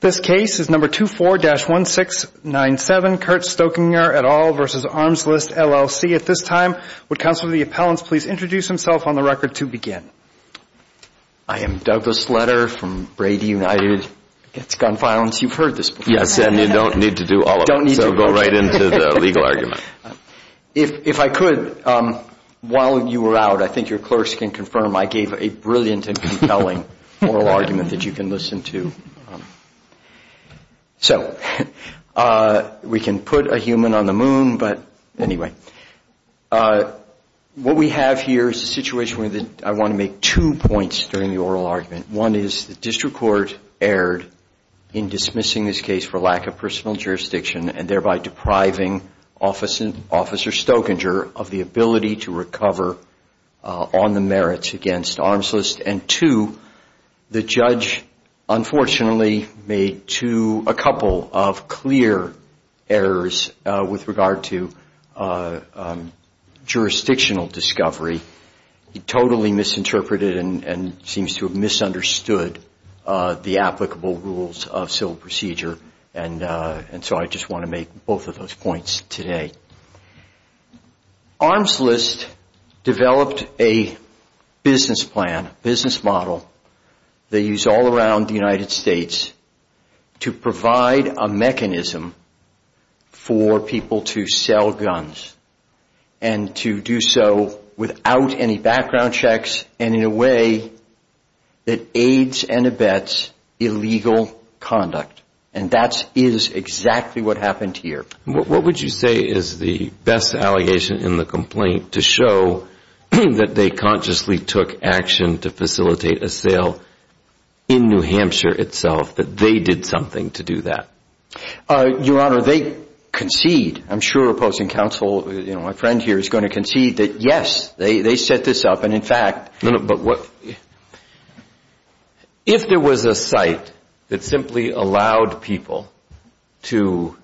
This case is number 24-1697, Kurt Stokinger v. Armslist, LLC. At this time, would Counselor of the Appellants please introduce himself on the record to begin. I am Douglas Sletter from Brady United. Against gun violence, you've heard this before. Yes, and you don't need to do all of it. Don't need to do all of it. So go right into the legal argument. If I could, while you were out, I think your clerks can confirm I gave a brilliant and compelling oral argument that you can listen to. So, we can put a human on the moon, but anyway. What we have here is a situation where I want to make two points during the oral argument. One is the District Court erred in dismissing this case for lack of personal jurisdiction and thereby depriving Officer Stokinger of the ability to recover on the merits against Armslist. And two, the judge unfortunately made a couple of clear errors with regard to jurisdictional discovery. He totally misinterpreted and seems to have misunderstood the applicable rules of civil procedure. And so I just want to make both of those points today. Armslist developed a business plan, a business model they use all around the United States to provide a mechanism for people to sell guns and to do so without any background checks and in a way that aids and abets illegal conduct. And that is exactly what happened here. What would you say is the best allegation in the complaint to show that they consciously took action to facilitate a sale in New Hampshire itself, that they did something to do that? Your Honor, they concede. I'm sure opposing counsel, my friend here is going to concede that yes, they set this up. And, in fact, if there was a site that simply allowed people to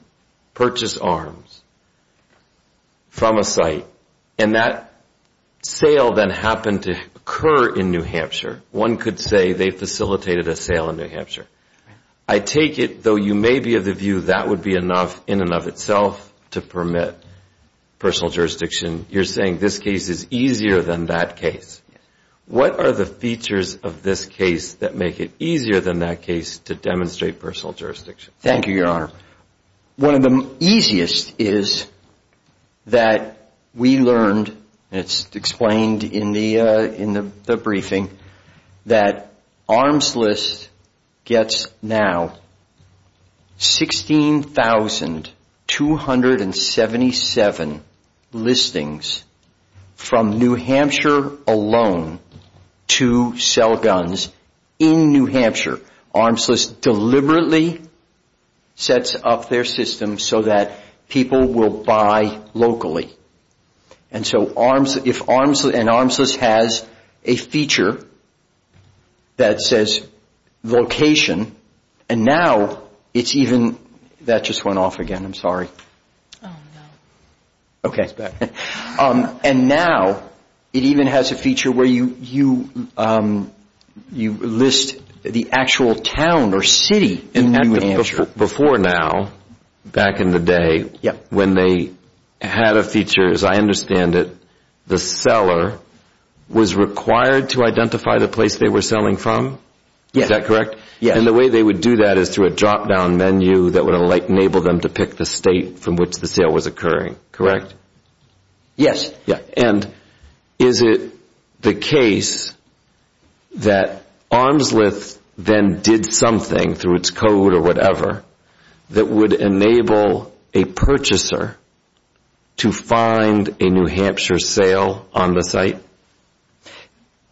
purchase arms from a site and that sale then happened to occur in New Hampshire, one could say they facilitated a sale in New Hampshire. I take it, though you may be of the view that would be enough in and of itself to permit personal jurisdiction, you're saying this case is easier than that case. What are the features of this case that make it easier than that case to demonstrate personal jurisdiction? Thank you, Your Honor. One of the easiest is that we learned, and it's explained in the briefing, that Arms List gets now 16,277 listings from New Hampshire alone to sell guns in New Hampshire. Arms List deliberately sets up their system so that people will buy locally. And so if Arms List has a feature that says location, and now it's even, that just went off again, I'm sorry. Oh, no. Okay. And now it even has a feature where you list the actual town or city in New Hampshire. Before now, back in the day, when they had a feature, as I understand it, the seller was required to identify the place they were selling from? Yes. Is that correct? Yes. And the way they would do that is through a drop-down menu that would enable them to pick the state from which the sale was occurring, correct? Yes. And is it the case that Arms List then did something through its code or whatever that would enable a purchaser to find a New Hampshire sale on the site?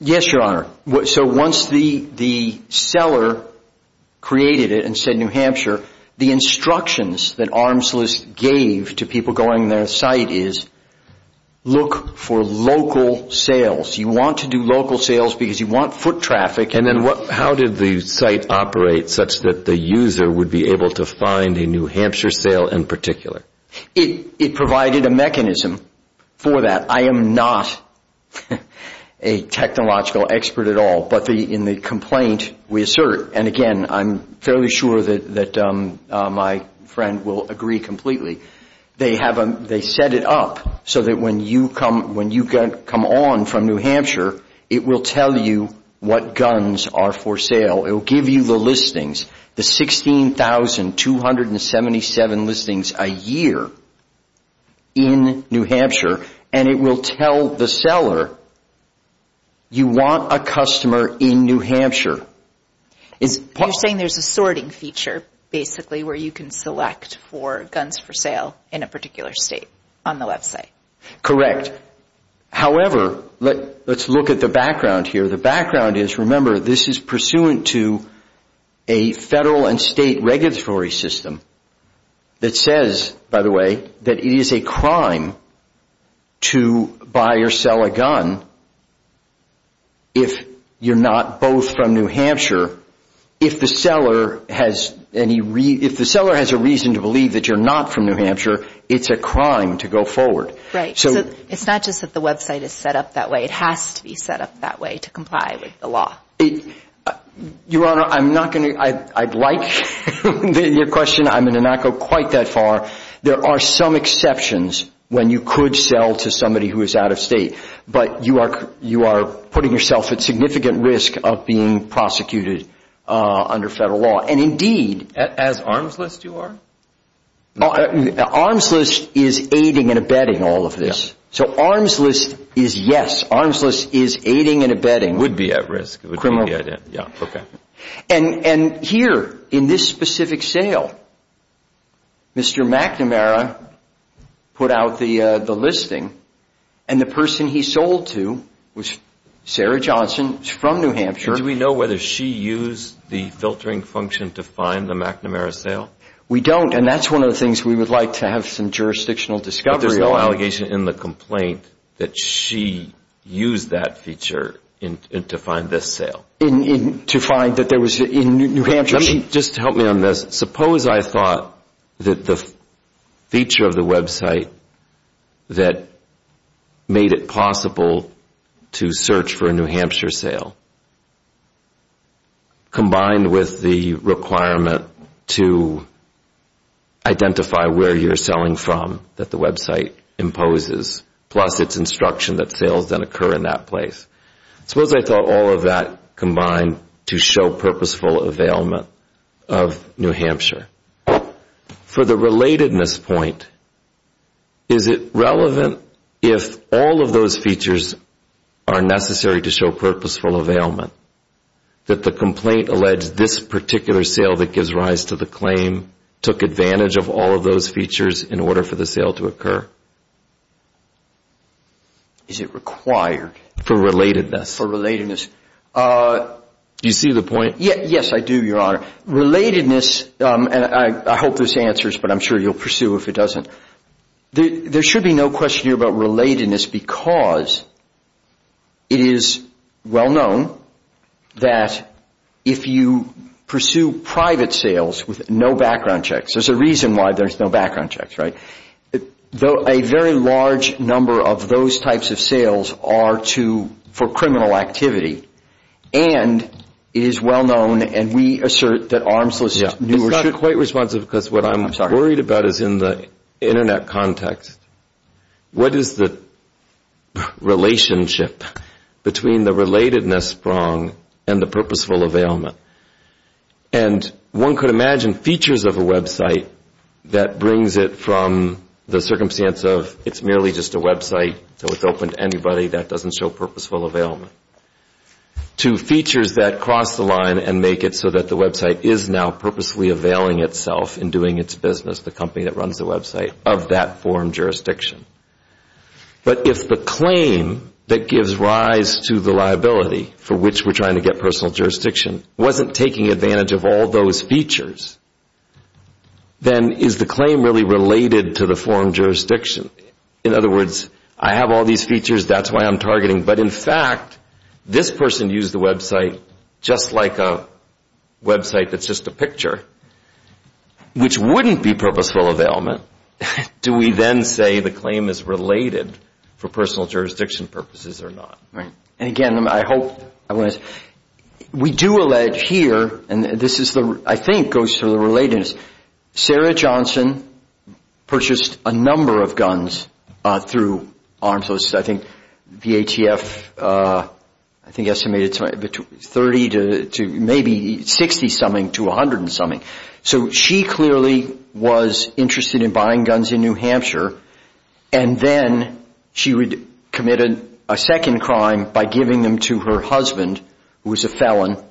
Yes, Your Honor. So once the seller created it and said New Hampshire, the instructions that Arms List gave to people going on their site is look for local sales. You want to do local sales because you want foot traffic. And then how did the site operate such that the user would be able to find a New Hampshire sale in particular? It provided a mechanism for that. I am not a technological expert at all, but in the complaint we assert, and again I'm fairly sure that my friend will agree completely, they set it up so that when you come on from New Hampshire, it will tell you what guns are for sale. It will give you the listings, the 16,277 listings a year in New Hampshire, and it will tell the seller you want a customer in New Hampshire. You're saying there's a sorting feature, basically, where you can select for guns for sale in a particular state on the website. Correct. However, let's look at the background here. The background is, remember, this is pursuant to a federal and state regulatory system that says, by the way, that it is a crime to buy or sell a gun if you're not both from New Hampshire. If the seller has a reason to believe that you're not from New Hampshire, it's a crime to go forward. Right. It's not just that the website is set up that way. It has to be set up that way to comply with the law. Your Honor, I'd like your question. I'm going to not go quite that far. There are some exceptions when you could sell to somebody who is out of state, but you are putting yourself at significant risk of being prosecuted under federal law. And indeed— As arms list you are? Arms list is aiding and abetting all of this. So arms list is yes. Arms list is aiding and abetting. It would be at risk. Yeah, okay. And here, in this specific sale, Mr. McNamara put out the listing, and the person he sold to was Sarah Johnson from New Hampshire. Do we know whether she used the filtering function to find the McNamara sale? We don't, and that's one of the things we would like to have some jurisdictional discovery on. There was no allegation in the complaint that she used that feature to find this sale. To find that there was a New Hampshire— Just help me on this. Suppose I thought that the feature of the website that made it possible to search for a New Hampshire sale, combined with the requirement to identify where you're selling from that the website imposes, plus its instruction that sales then occur in that place. Suppose I thought all of that combined to show purposeful availment of New Hampshire. For the relatedness point, is it relevant if all of those features are necessary to show purposeful availment, that the complaint alleged this particular sale that gives rise to the claim took advantage of all of those features in order for the sale to occur? Is it required? For relatedness. For relatedness. Do you see the point? Yes, I do, Your Honor. Relatedness, and I hope this answers, but I'm sure you'll pursue if it doesn't. There should be no question here about relatedness because it is well known that if you pursue private sales with no background checks— There's a reason why there's no background checks, right? A very large number of those types of sales are for criminal activity, and it is well known, and we assert that arms list— It's not quite responsive because what I'm worried about is in the Internet context, what is the relationship between the relatedness prong and the purposeful availment? And one could imagine features of a website that brings it from the circumstance of it's merely just a website, so it's open to anybody, that doesn't show purposeful availment, to features that cross the line and make it so that the website is now purposely availing itself in doing its business, the company that runs the website, of that foreign jurisdiction. But if the claim that gives rise to the liability for which we're trying to get personal jurisdiction wasn't taking advantage of all those features, then is the claim really related to the foreign jurisdiction? In other words, I have all these features, that's why I'm targeting. But in fact, this person used the website just like a website that's just a picture, which wouldn't be purposeful availment. Do we then say the claim is related for personal jurisdiction purposes or not? Right. And again, I hope— We do allege here, and this is the—I think goes to the relatedness. Sarah Johnson purchased a number of guns through ARMS. I think the ATF estimated 30 to maybe 60-something to 100-something. So she clearly was interested in buying guns in New Hampshire, and then she committed a second crime by giving them to her husband, who was a felon,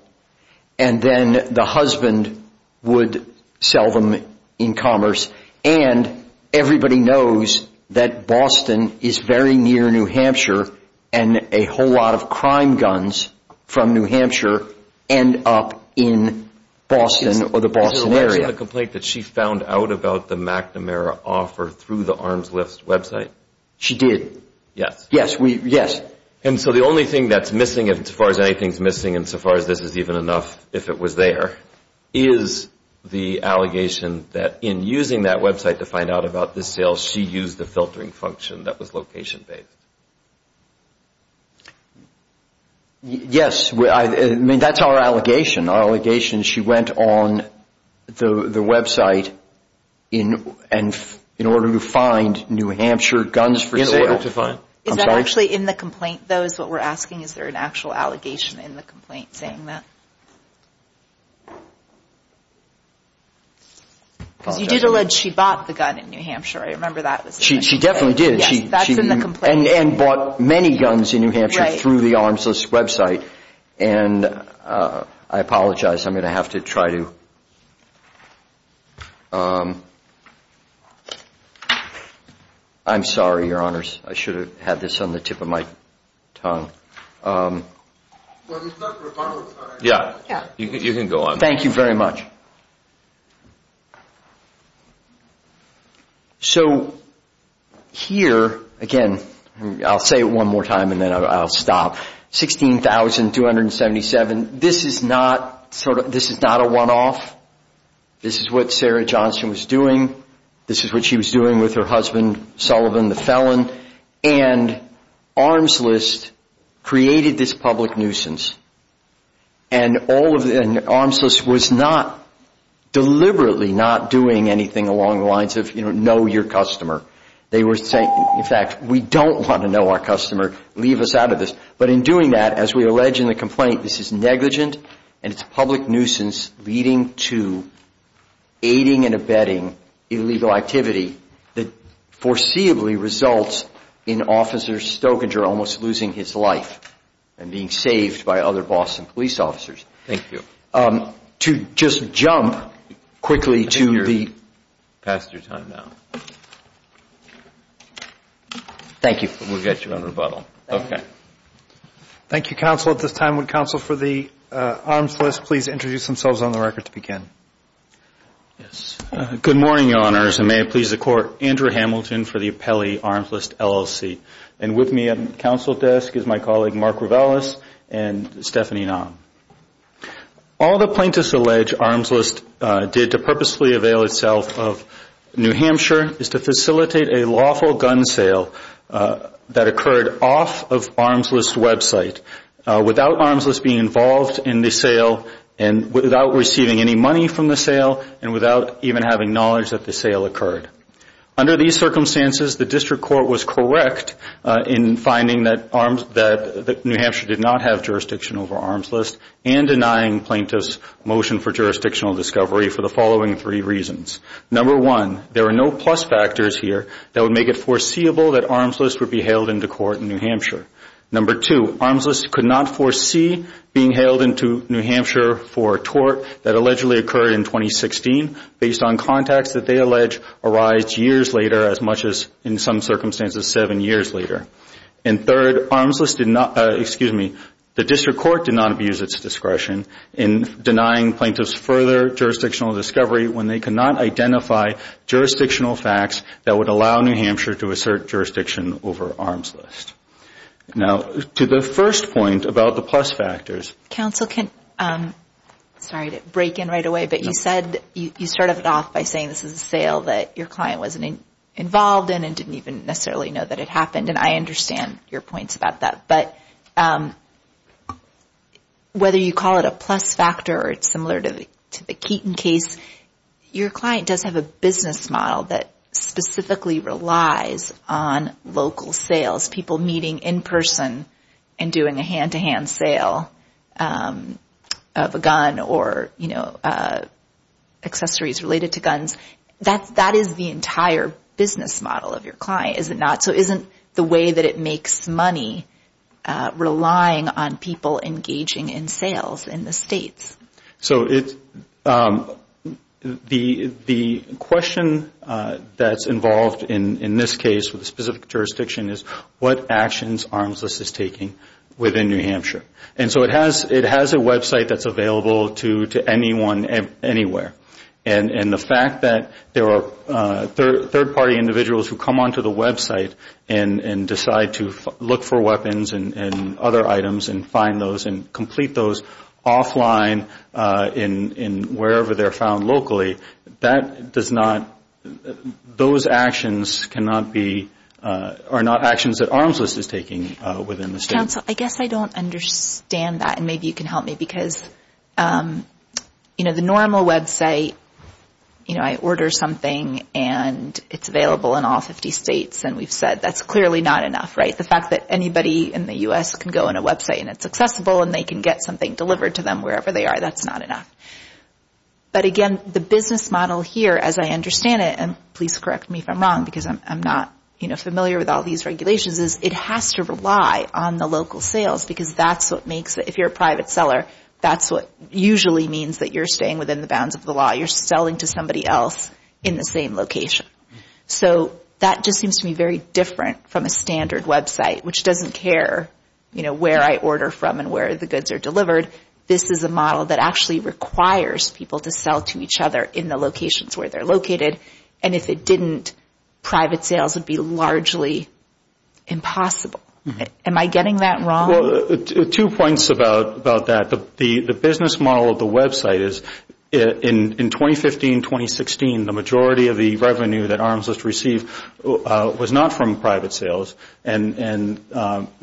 and then the husband would sell them in commerce. And everybody knows that Boston is very near New Hampshire, and a whole lot of crime guns from New Hampshire end up in Boston or the Boston area. Is it aware of the complaint that she found out about the McNamara offer through the ARMS list website? She did. Yes. Yes. And so the only thing that's missing, as far as anything's missing, and so far as this is even enough, if it was there, is the allegation that in using that website to find out about this sale, she used the filtering function that was location-based. Yes. I mean, that's our allegation. Our allegation is she went on the website in order to find New Hampshire guns for sale. Is that actually in the complaint, though, is what we're asking? Is there an actual allegation in the complaint saying that? Because you did allege she bought the gun in New Hampshire. I remember that. She definitely did. Yes, that's in the complaint. And bought many guns in New Hampshire through the ARMS list website. And I apologize. I'm going to have to try to – I'm sorry, Your Honors. I should have had this on the tip of my tongue. You can go on. Thank you very much. So here, again, I'll say it one more time and then I'll stop. 16,277. This is not a one-off. This is what Sarah Johnson was doing. This is what she was doing with her husband, Sullivan, the felon. And ARMS list created this public nuisance. And ARMS list was not deliberately not doing anything along the lines of, you know, know your customer. They were saying, in fact, we don't want to know our customer. Leave us out of this. But in doing that, as we allege in the complaint, this is negligent and it's a public nuisance leading to aiding and abetting illegal activity that foreseeably results in Officer Stokinger almost losing his life and being saved by other Boston police officers. Thank you. To just jump quickly to the – You've passed your time now. Thank you. We'll get you on rebuttal. Thank you, Counsel. At this time, would Counsel for the ARMS list please introduce themselves on the record to begin? Yes. Good morning, Your Honors, and may it please the Court. Andrew Hamilton for the Appellee ARMS list LLC. And with me at the Counsel desk is my colleague Mark Rivellis and Stephanie Naum. All the plaintiffs allege ARMS list did to purposely avail itself of New Hampshire is to facilitate a lawful gun sale that occurred off of ARMS list's website without ARMS list being involved in the sale and without receiving any money from the sale and without even having knowledge that the sale occurred. Under these circumstances, the District Court was correct in finding that New Hampshire did not have jurisdiction over ARMS list and denying plaintiffs' motion for jurisdictional discovery for the following three reasons. Number one, there are no plus factors here that would make it foreseeable that ARMS list would be hailed into court in New Hampshire. Number two, ARMS list could not foresee being hailed into New Hampshire for a tort that allegedly occurred in 2016 based on contacts that they allege arise years later as much as in some circumstances seven years later. And third, ARMS list did not, excuse me, the District Court did not abuse its discretion in denying plaintiffs further jurisdictional discovery when they could not identify jurisdictional facts that would allow New Hampshire to assert jurisdiction over ARMS list. Now, to the first point about the plus factors. Counsel, can, sorry to break in right away, but you said, you started it off by saying this is a sale that your client wasn't involved in and didn't even necessarily know that it happened, and I understand your points about that. But whether you call it a plus factor or it's similar to the Keaton case, your client does have a business model that specifically relies on local sales, people meeting in person and doing a hand-to-hand sale of a gun or, you know, accessories related to guns. That is the entire business model of your client, is it not? So isn't the way that it makes money relying on people engaging in sales in the states? So the question that's involved in this case with the specific jurisdiction is what actions ARMS list is taking within New Hampshire. And so it has a website that's available to anyone anywhere. And the fact that there are third-party individuals who come onto the website and decide to look for weapons and other items and find those and complete those offline in wherever they're found locally, that does not – those actions cannot be – are not actions that ARMS list is taking within the state. Counsel, I guess I don't understand that, and maybe you can help me, because, you know, the normal website, you know, I order something and it's available in all 50 states, and we've said that's clearly not enough, right? The fact that anybody in the U.S. can go on a website and it's accessible and they can get something delivered to them wherever they are, that's not enough. But again, the business model here, as I understand it, and please correct me if I'm wrong because I'm not, you know, familiar with all these regulations, is it has to rely on the local sales because that's what makes – if you're a private seller, that's what usually means that you're staying within the bounds of the law. You're selling to somebody else in the same location. So that just seems to be very different from a standard website, which doesn't care, you know, where I order from and where the goods are delivered. This is a model that actually requires people to sell to each other in the locations where they're located, and if it didn't, private sales would be largely impossible. Am I getting that wrong? Well, two points about that. The business model of the website is in 2015, 2016, the majority of the revenue that Arms List received was not from private sales, and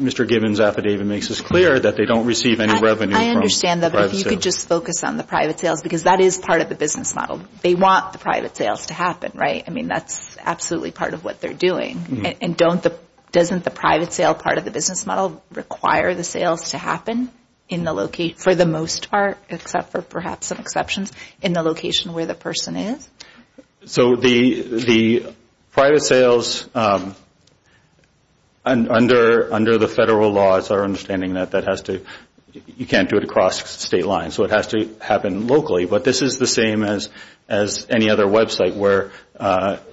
Mr. Gibbons' affidavit makes this clear that they don't receive any revenue from private sales. I understand that, but if you could just focus on the private sales because that is part of the business model. They want the private sales to happen, right? I mean, that's absolutely part of what they're doing. And doesn't the private sale part of the business model require the sales to happen for the most part, except for perhaps some exceptions, in the location where the person is? So the private sales, under the federal law, it's our understanding that that has to, you can't do it across state lines, so it has to happen locally. But this is the same as any other website where,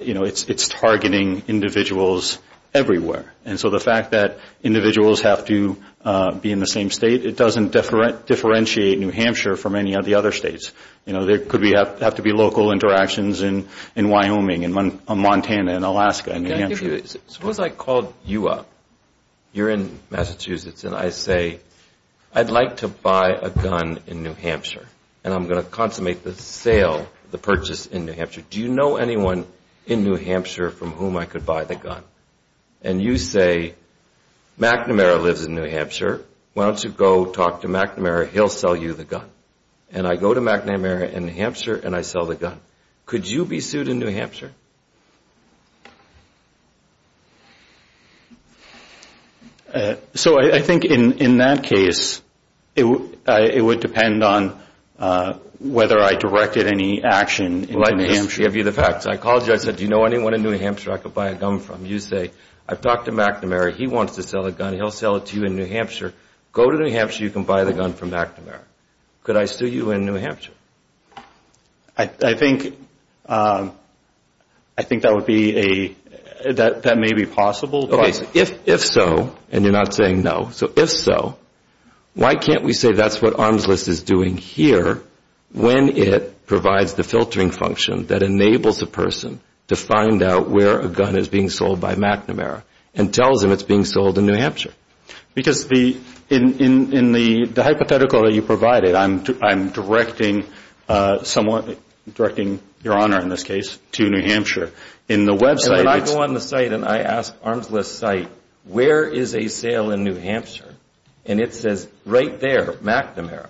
you know, it's targeting individuals everywhere. And so the fact that individuals have to be in the same state, it doesn't differentiate New Hampshire from any of the other states. You know, there could have to be local interactions in Wyoming and Montana and Alaska and New Hampshire. Suppose I called you up. You're in Massachusetts, and I say, I'd like to buy a gun in New Hampshire, and I'm going to consummate the sale, the purchase in New Hampshire. Do you know anyone in New Hampshire from whom I could buy the gun? And you say, McNamara lives in New Hampshire. Why don't you go talk to McNamara? He'll sell you the gun. And I go to McNamara in New Hampshire, and I sell the gun. Could you be sued in New Hampshire? So I think in that case, it would depend on whether I directed any action in New Hampshire. Let me just give you the facts. I called you. I said, do you know anyone in New Hampshire I could buy a gun from? You say, I've talked to McNamara. He wants to sell the gun. He'll sell it to you in New Hampshire. Go to New Hampshire. You can buy the gun from McNamara. Could I sue you in New Hampshire? I think that may be possible. If so, and you're not saying no, so if so, why can't we say that's what Arms List is doing here when it provides the filtering function that enables a person to find out where a gun is being sold by McNamara and tells him it's being sold in New Hampshire? Because in the hypothetical that you provided, I'm directing your honor in this case to New Hampshire. When I go on the site and I ask Arms List site, where is a sale in New Hampshire? And it says right there, McNamara.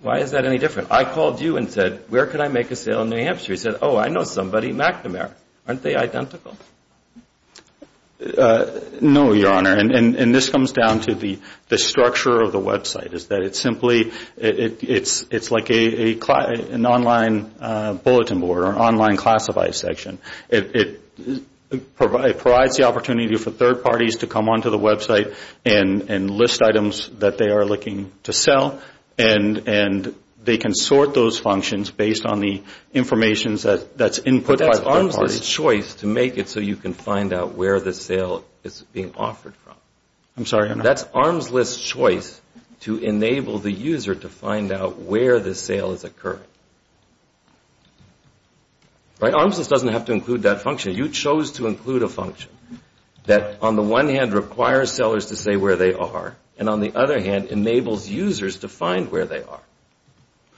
Why is that any different? I called you and said, where can I make a sale in New Hampshire? You said, oh, I know somebody, McNamara. Aren't they identical? No, your honor, and this comes down to the structure of the website. It's like an online bulletin board or an online classified section. It provides the opportunity for third parties to come onto the website and list items that they are looking to sell, and they can sort those functions based on the information that's input by third parties. That's Arms List's choice to make it so you can find out where the sale is being offered from. I'm sorry, your honor. That's Arms List's choice to enable the user to find out where the sale is occurring. Arms List doesn't have to include that function. You chose to include a function that, on the one hand, requires sellers to say where they are, and on the other hand, enables users to find where they are.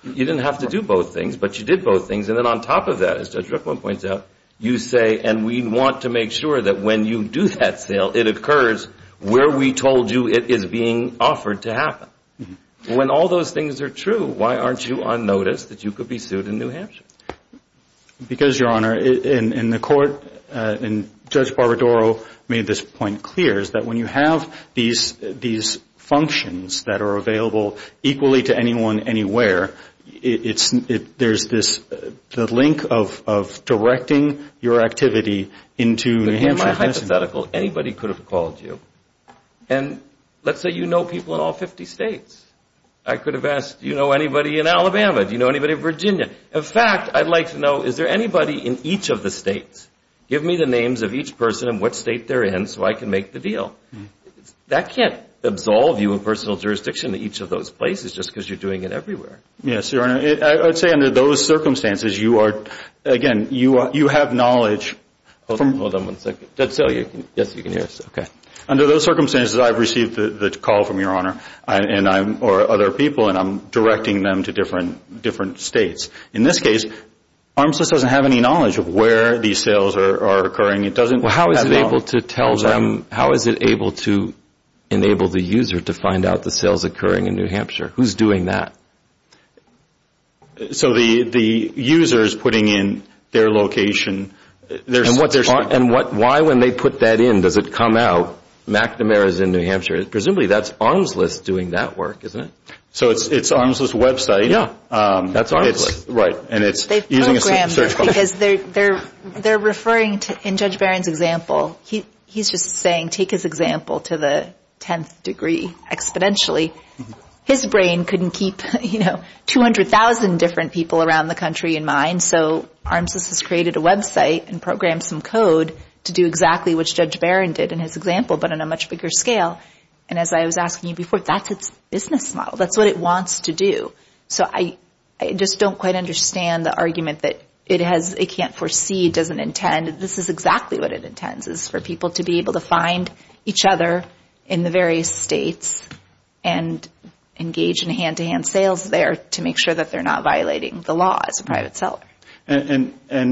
You didn't have to do both things, but you did both things, and then on top of that, as Judge Rickman points out, you say, and we want to make sure that when you do that sale, it occurs where we told you it is being offered to happen. When all those things are true, why aren't you on notice that you could be sued in New Hampshire? Because, your honor, in the court, and Judge Barbadaro made this point clear, is that when you have these functions that are available equally to anyone anywhere, there's this link of directing your activity into New Hampshire. Am I hypothetical? Anybody could have called you, and let's say you know people in all 50 states. I could have asked, do you know anybody in Alabama? Do you know anybody in Virginia? In fact, I'd like to know, is there anybody in each of the states? Give me the names of each person and what state they're in so I can make the deal. That can't absolve you of personal jurisdiction in each of those places just because you're doing it everywhere. Yes, your honor. I'd say under those circumstances, you are, again, you have knowledge. Hold on one second. Judge Sell, yes, you can hear us. Under those circumstances, I've received the call from your honor or other people, and I'm directing them to different states. In this case, Armsys doesn't have any knowledge of where these sales are occurring. Well, how is it able to tell them, how is it able to enable the user to find out the sales occurring in New Hampshire? Who's doing that? So the user is putting in their location. And why, when they put that in, does it come out? McNamara is in New Hampshire. Presumably that's Armsys doing that work, isn't it? So it's Armsys' website. That's Armsys. Right. They've programmed it because they're referring to, in Judge Barron's example, he's just saying take his example to the tenth degree exponentially. His brain couldn't keep 200,000 different people around the country in mind, so Armsys has created a website and programmed some code to do exactly what Judge Barron did in his example but on a much bigger scale. And as I was asking you before, that's its business model. That's what it wants to do. So I just don't quite understand the argument that it can't foresee, it doesn't intend. This is exactly what it intends, is for people to be able to find each other in the various states and engage in hand-to-hand sales there to make sure that they're not violating the law as a private seller. And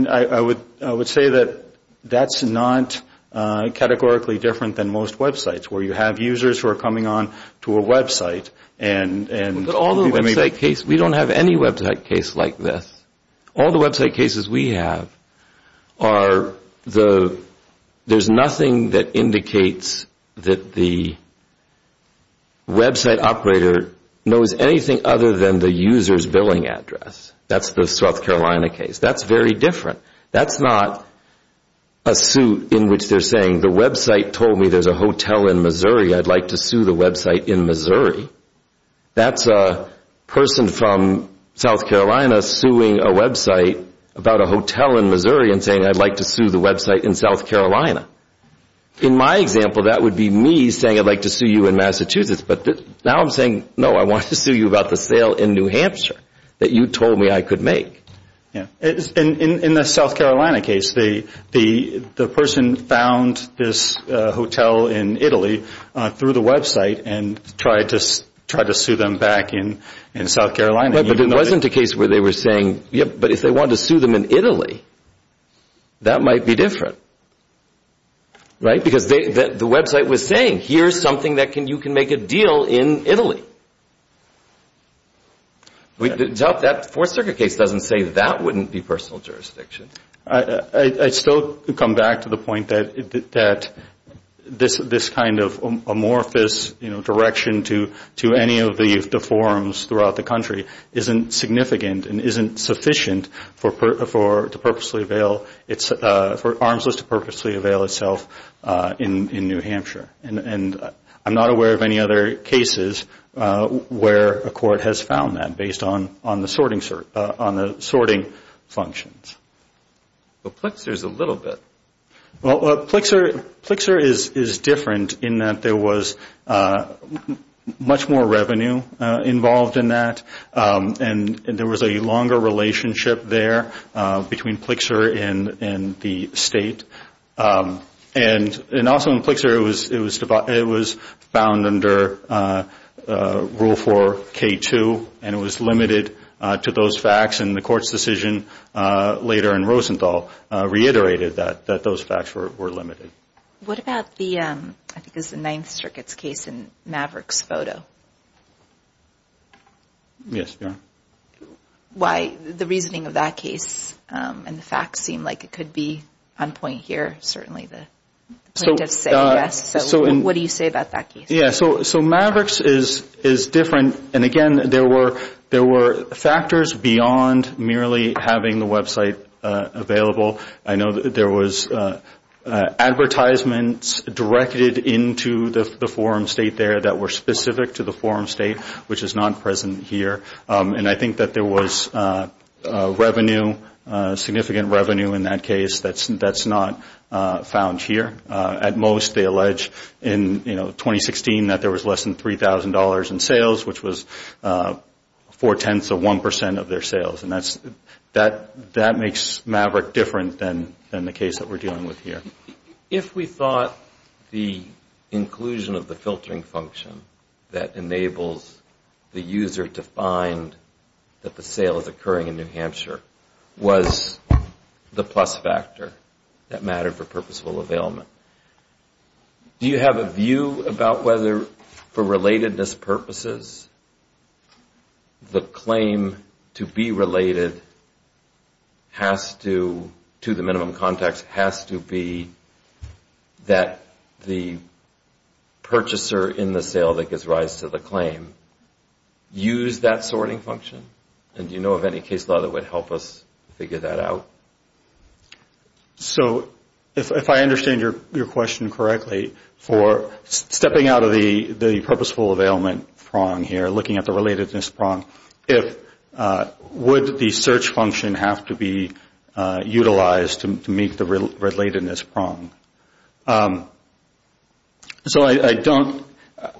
I would say that that's not categorically different than most websites where you have users who are coming on to a website. But all the website cases, we don't have any website case like this. All the website cases we have are the, there's nothing that indicates that the website operator knows anything other than the user's billing address. That's the South Carolina case. That's very different. That's not a suit in which they're saying the website told me there's a hotel in Missouri, I'd like to sue the website in Missouri. That's a person from South Carolina suing a website about a hotel in Missouri and saying I'd like to sue the website in South Carolina. In my example, that would be me saying I'd like to sue you in Massachusetts. But now I'm saying, no, I want to sue you about the sale in New Hampshire that you told me I could make. In the South Carolina case, the person found this hotel in Italy through the website and tried to sue them back in South Carolina. But it wasn't a case where they were saying, yep, but if they wanted to sue them in Italy, that might be different, right? Because the website was saying, here's something that you can make a deal in Italy. The Fourth Circuit case doesn't say that wouldn't be personal jurisdiction. I still come back to the point that this kind of amorphous direction to any of the forums throughout the country isn't significant and isn't sufficient for Arms List to purposely avail itself in New Hampshire. And I'm not aware of any other cases where a court has found that based on the sorting functions. But Plexer is a little bit. Well, Plexer is different in that there was much more revenue involved in that and there was a longer relationship there between Plexer and the state. And also in Plexer, it was found under Rule 4K2 and it was limited to those facts. And the court's decision later in Rosenthal reiterated that those facts were limited. What about the, I think it was the Ninth Circuit's case in Maverick's photo? Yes. Why the reasoning of that case and the facts seem like it could be on point here. Certainly the plaintiff's saying yes. So what do you say about that case? So Maverick's is different. And again, there were factors beyond merely having the website available. I know that there was advertisements directed into the forum state there that were specific to the forum state, which is not present here. And I think that there was revenue, significant revenue in that case that's not found here. At most, they allege in 2016 that there was less than $3,000 in sales, which was four-tenths of 1% of their sales. And that makes Maverick different than the case that we're dealing with here. If we thought the inclusion of the filtering function that enables the user to find that the sale is occurring in New Hampshire was the plus factor that mattered for purposeful availment, do you have a view about whether, for relatedness purposes, the claim to be related has to, to the minimum context, has to be that the purchaser in the sale that gives rise to the claim use that sorting function? And do you know of any case law that would help us figure that out? So if I understand your question correctly, for stepping out of the purposeful availment prong here, looking at the relatedness prong, would the search function have to be utilized to meet the relatedness prong? So I don't,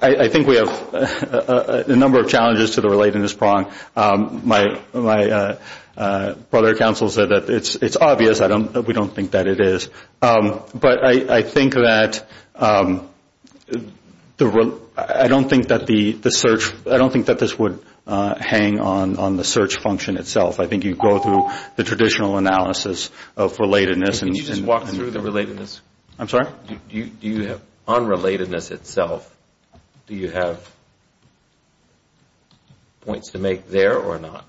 I think we have a number of challenges to the relatedness prong. My brother at council said that it's obvious. We don't think that it is. But I think that the, I don't think that the search, I don't think that this would hang on the search function itself. I think you'd go through the traditional analysis of relatedness. Can you just walk through the relatedness? I'm sorry? Do you have, on relatedness itself, do you have points to make there or not?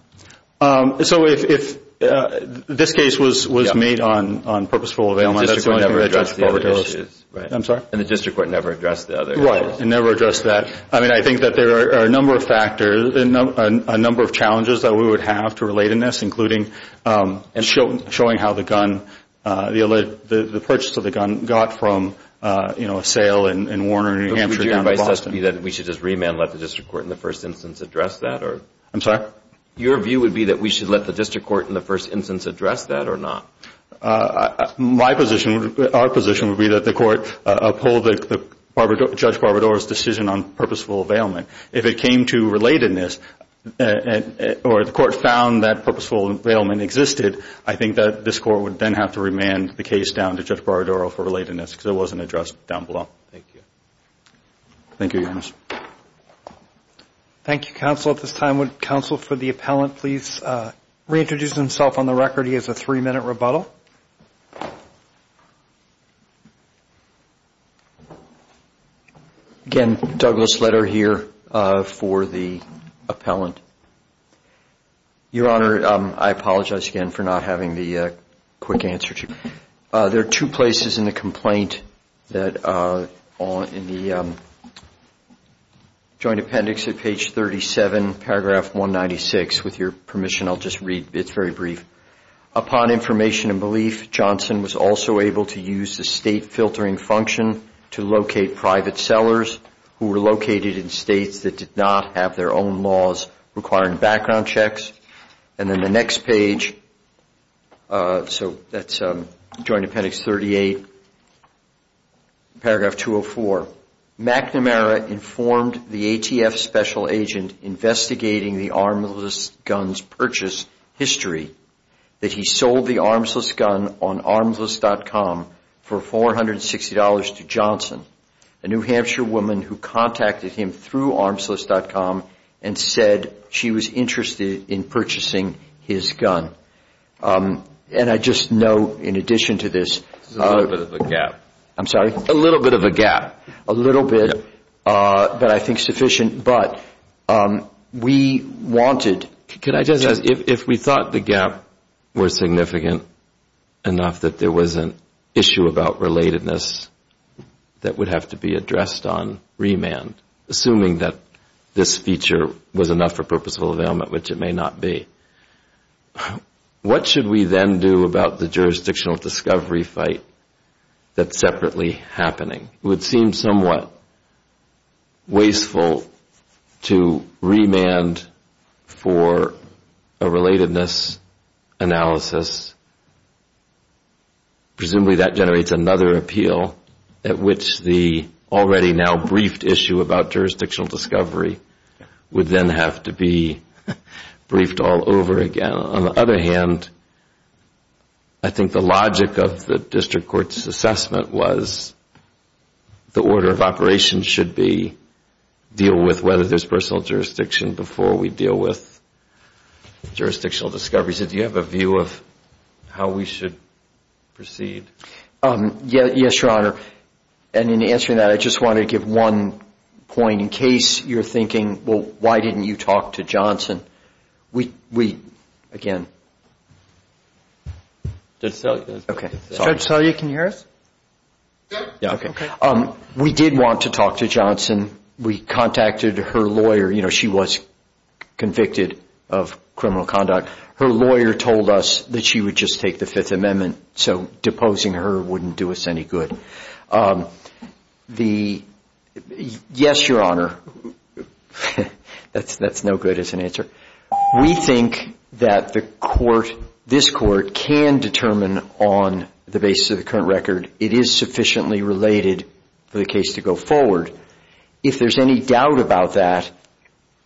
So if this case was made on purposeful availment, that's the only thing that gets forwarded. And the district court never addressed the other issues. I'm sorry? And the district court never addressed the other issues. Right. It never addressed that. I mean, I think that there are a number of factors, a number of challenges that we would have to relatedness, including showing how the gun, the purchase of the gun got from, you know, a sale in Warner, New Hampshire down to Boston. Would your advice just be that we should just remand and let the district court in the first instance address that? I'm sorry? Your view would be that we should let the district court in the first instance address that or not? My position, our position would be that the court uphold Judge Barbador's decision on purposeful availment. If it came to relatedness or the court found that purposeful availment existed, I think that this court would then have to remand the case down to Judge Barbador for relatedness because it wasn't addressed down below. Thank you. Thank you, Your Honor. Thank you, counsel. At this time, would counsel for the appellant please reintroduce himself on the record? He has a three-minute rebuttal. Again, Douglas Leder here for the appellant. Your Honor, I apologize again for not having the quick answer. There are two places in the complaint that are in the joint appendix at page 37, paragraph 196. With your permission, I'll just read. It's very brief. Upon information and belief, Johnson was also able to use the state filtering function to locate private sellers who were located in states that did not have their own laws requiring background checks. And then the next page, so that's joint appendix 38, paragraph 204. McNamara informed the ATF special agent investigating the armless gun's purchase history that he sold the armless gun on armless.com for $460 to Johnson, a New Hampshire woman who contacted him through armless.com and said she was interested in purchasing his gun. And I just note in addition to this. This is a little bit of a gap. I'm sorry? A little bit of a gap. A little bit, but I think sufficient. But we wanted. Could I just ask, if we thought the gap was significant enough that there was an issue about relatedness that would have to be addressed on remand, assuming that this feature was enough for purposeful availment, which it may not be, what should we then do about the jurisdictional discovery fight that's separately happening? It would seem somewhat wasteful to remand for a relatedness analysis. Presumably that generates another appeal at which the already now briefed issue about jurisdictional discovery would then have to be briefed all over again. On the other hand, I think the logic of the district court's assessment was the order of operations should be, deal with whether there's personal jurisdiction before we deal with jurisdictional discoveries. Do you have a view of how we should proceed? Yes, Your Honor. In answering that, I just want to give one point in case you're thinking, well, why didn't you talk to Johnson? Judge Selye, can you hear us? Yes. We did want to talk to Johnson. We contacted her lawyer. She was convicted of criminal conduct. Her lawyer told us that she would just take the Fifth Amendment, so deposing her wouldn't do us any good. Yes, Your Honor. That's no good as an answer. We think that the court, this court, can determine on the basis of the current record it is sufficiently related for the case to go forward. If there's any doubt about that,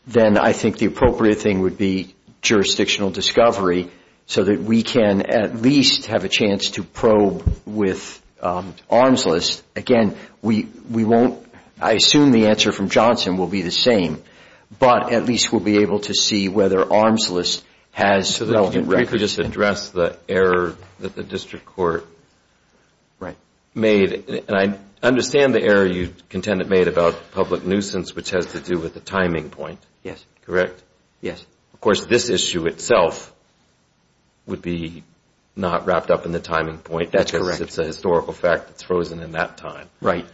then I think the appropriate thing would be jurisdictional discovery so that we can at least have a chance to probe with arm's list. Again, we won't, I assume the answer from Johnson will be the same, but at least we'll be able to see whether arm's list has relevant records. Just to address the error that the district court made, and I understand the error you, Contendant, made about public nuisance, which has to do with the timing point, correct? Yes. Of course, this issue itself would be not wrapped up in the timing point. That's correct. It's a historical fact that's frozen in that time. Right.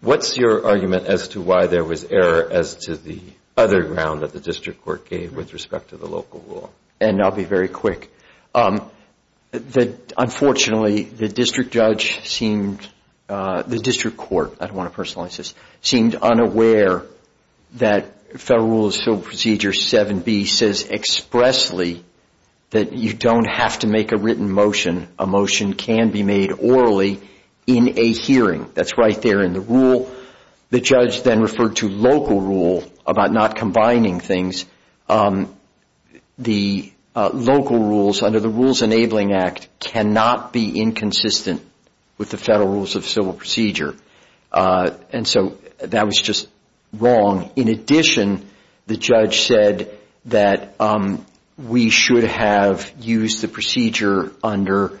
What's your argument as to why there was error as to the other ground that the district court gave with respect to the local law? I'll be very quick. Unfortunately, the district judge seemed, the district court, I don't want to personalize this, seemed unaware that Federal Rule of Civil Procedure 7B says expressly that you don't have to make a written motion. A motion can be made orally in a hearing. That's right there in the rule. The judge then referred to local rule about not combining things. The local rules under the Rules Enabling Act cannot be inconsistent with the Federal Rules of Civil Procedure. And so that was just wrong. In addition, the judge said that we should have used the procedure under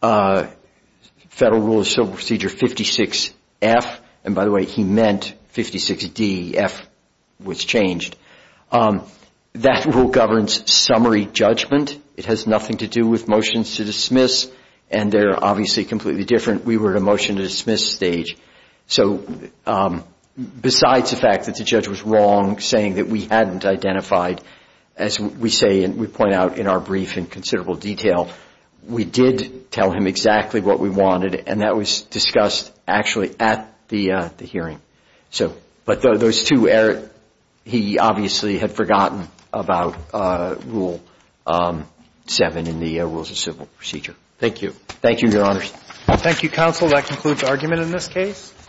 Federal Rule of Civil Procedure 56F. And by the way, he meant 56D. F was changed. That rule governs summary judgment. It has nothing to do with motions to dismiss, and they're obviously completely different. We were at a motion to dismiss stage. So besides the fact that the judge was wrong saying that we hadn't identified, as we say and we point out in our brief in considerable detail, we did tell him exactly what we wanted, and that was discussed actually at the hearing. But those two, he obviously had forgotten about Rule 7 in the Rules of Civil Procedure. Thank you. Thank you, Your Honors. Thank you, counsel. That concludes argument in this case.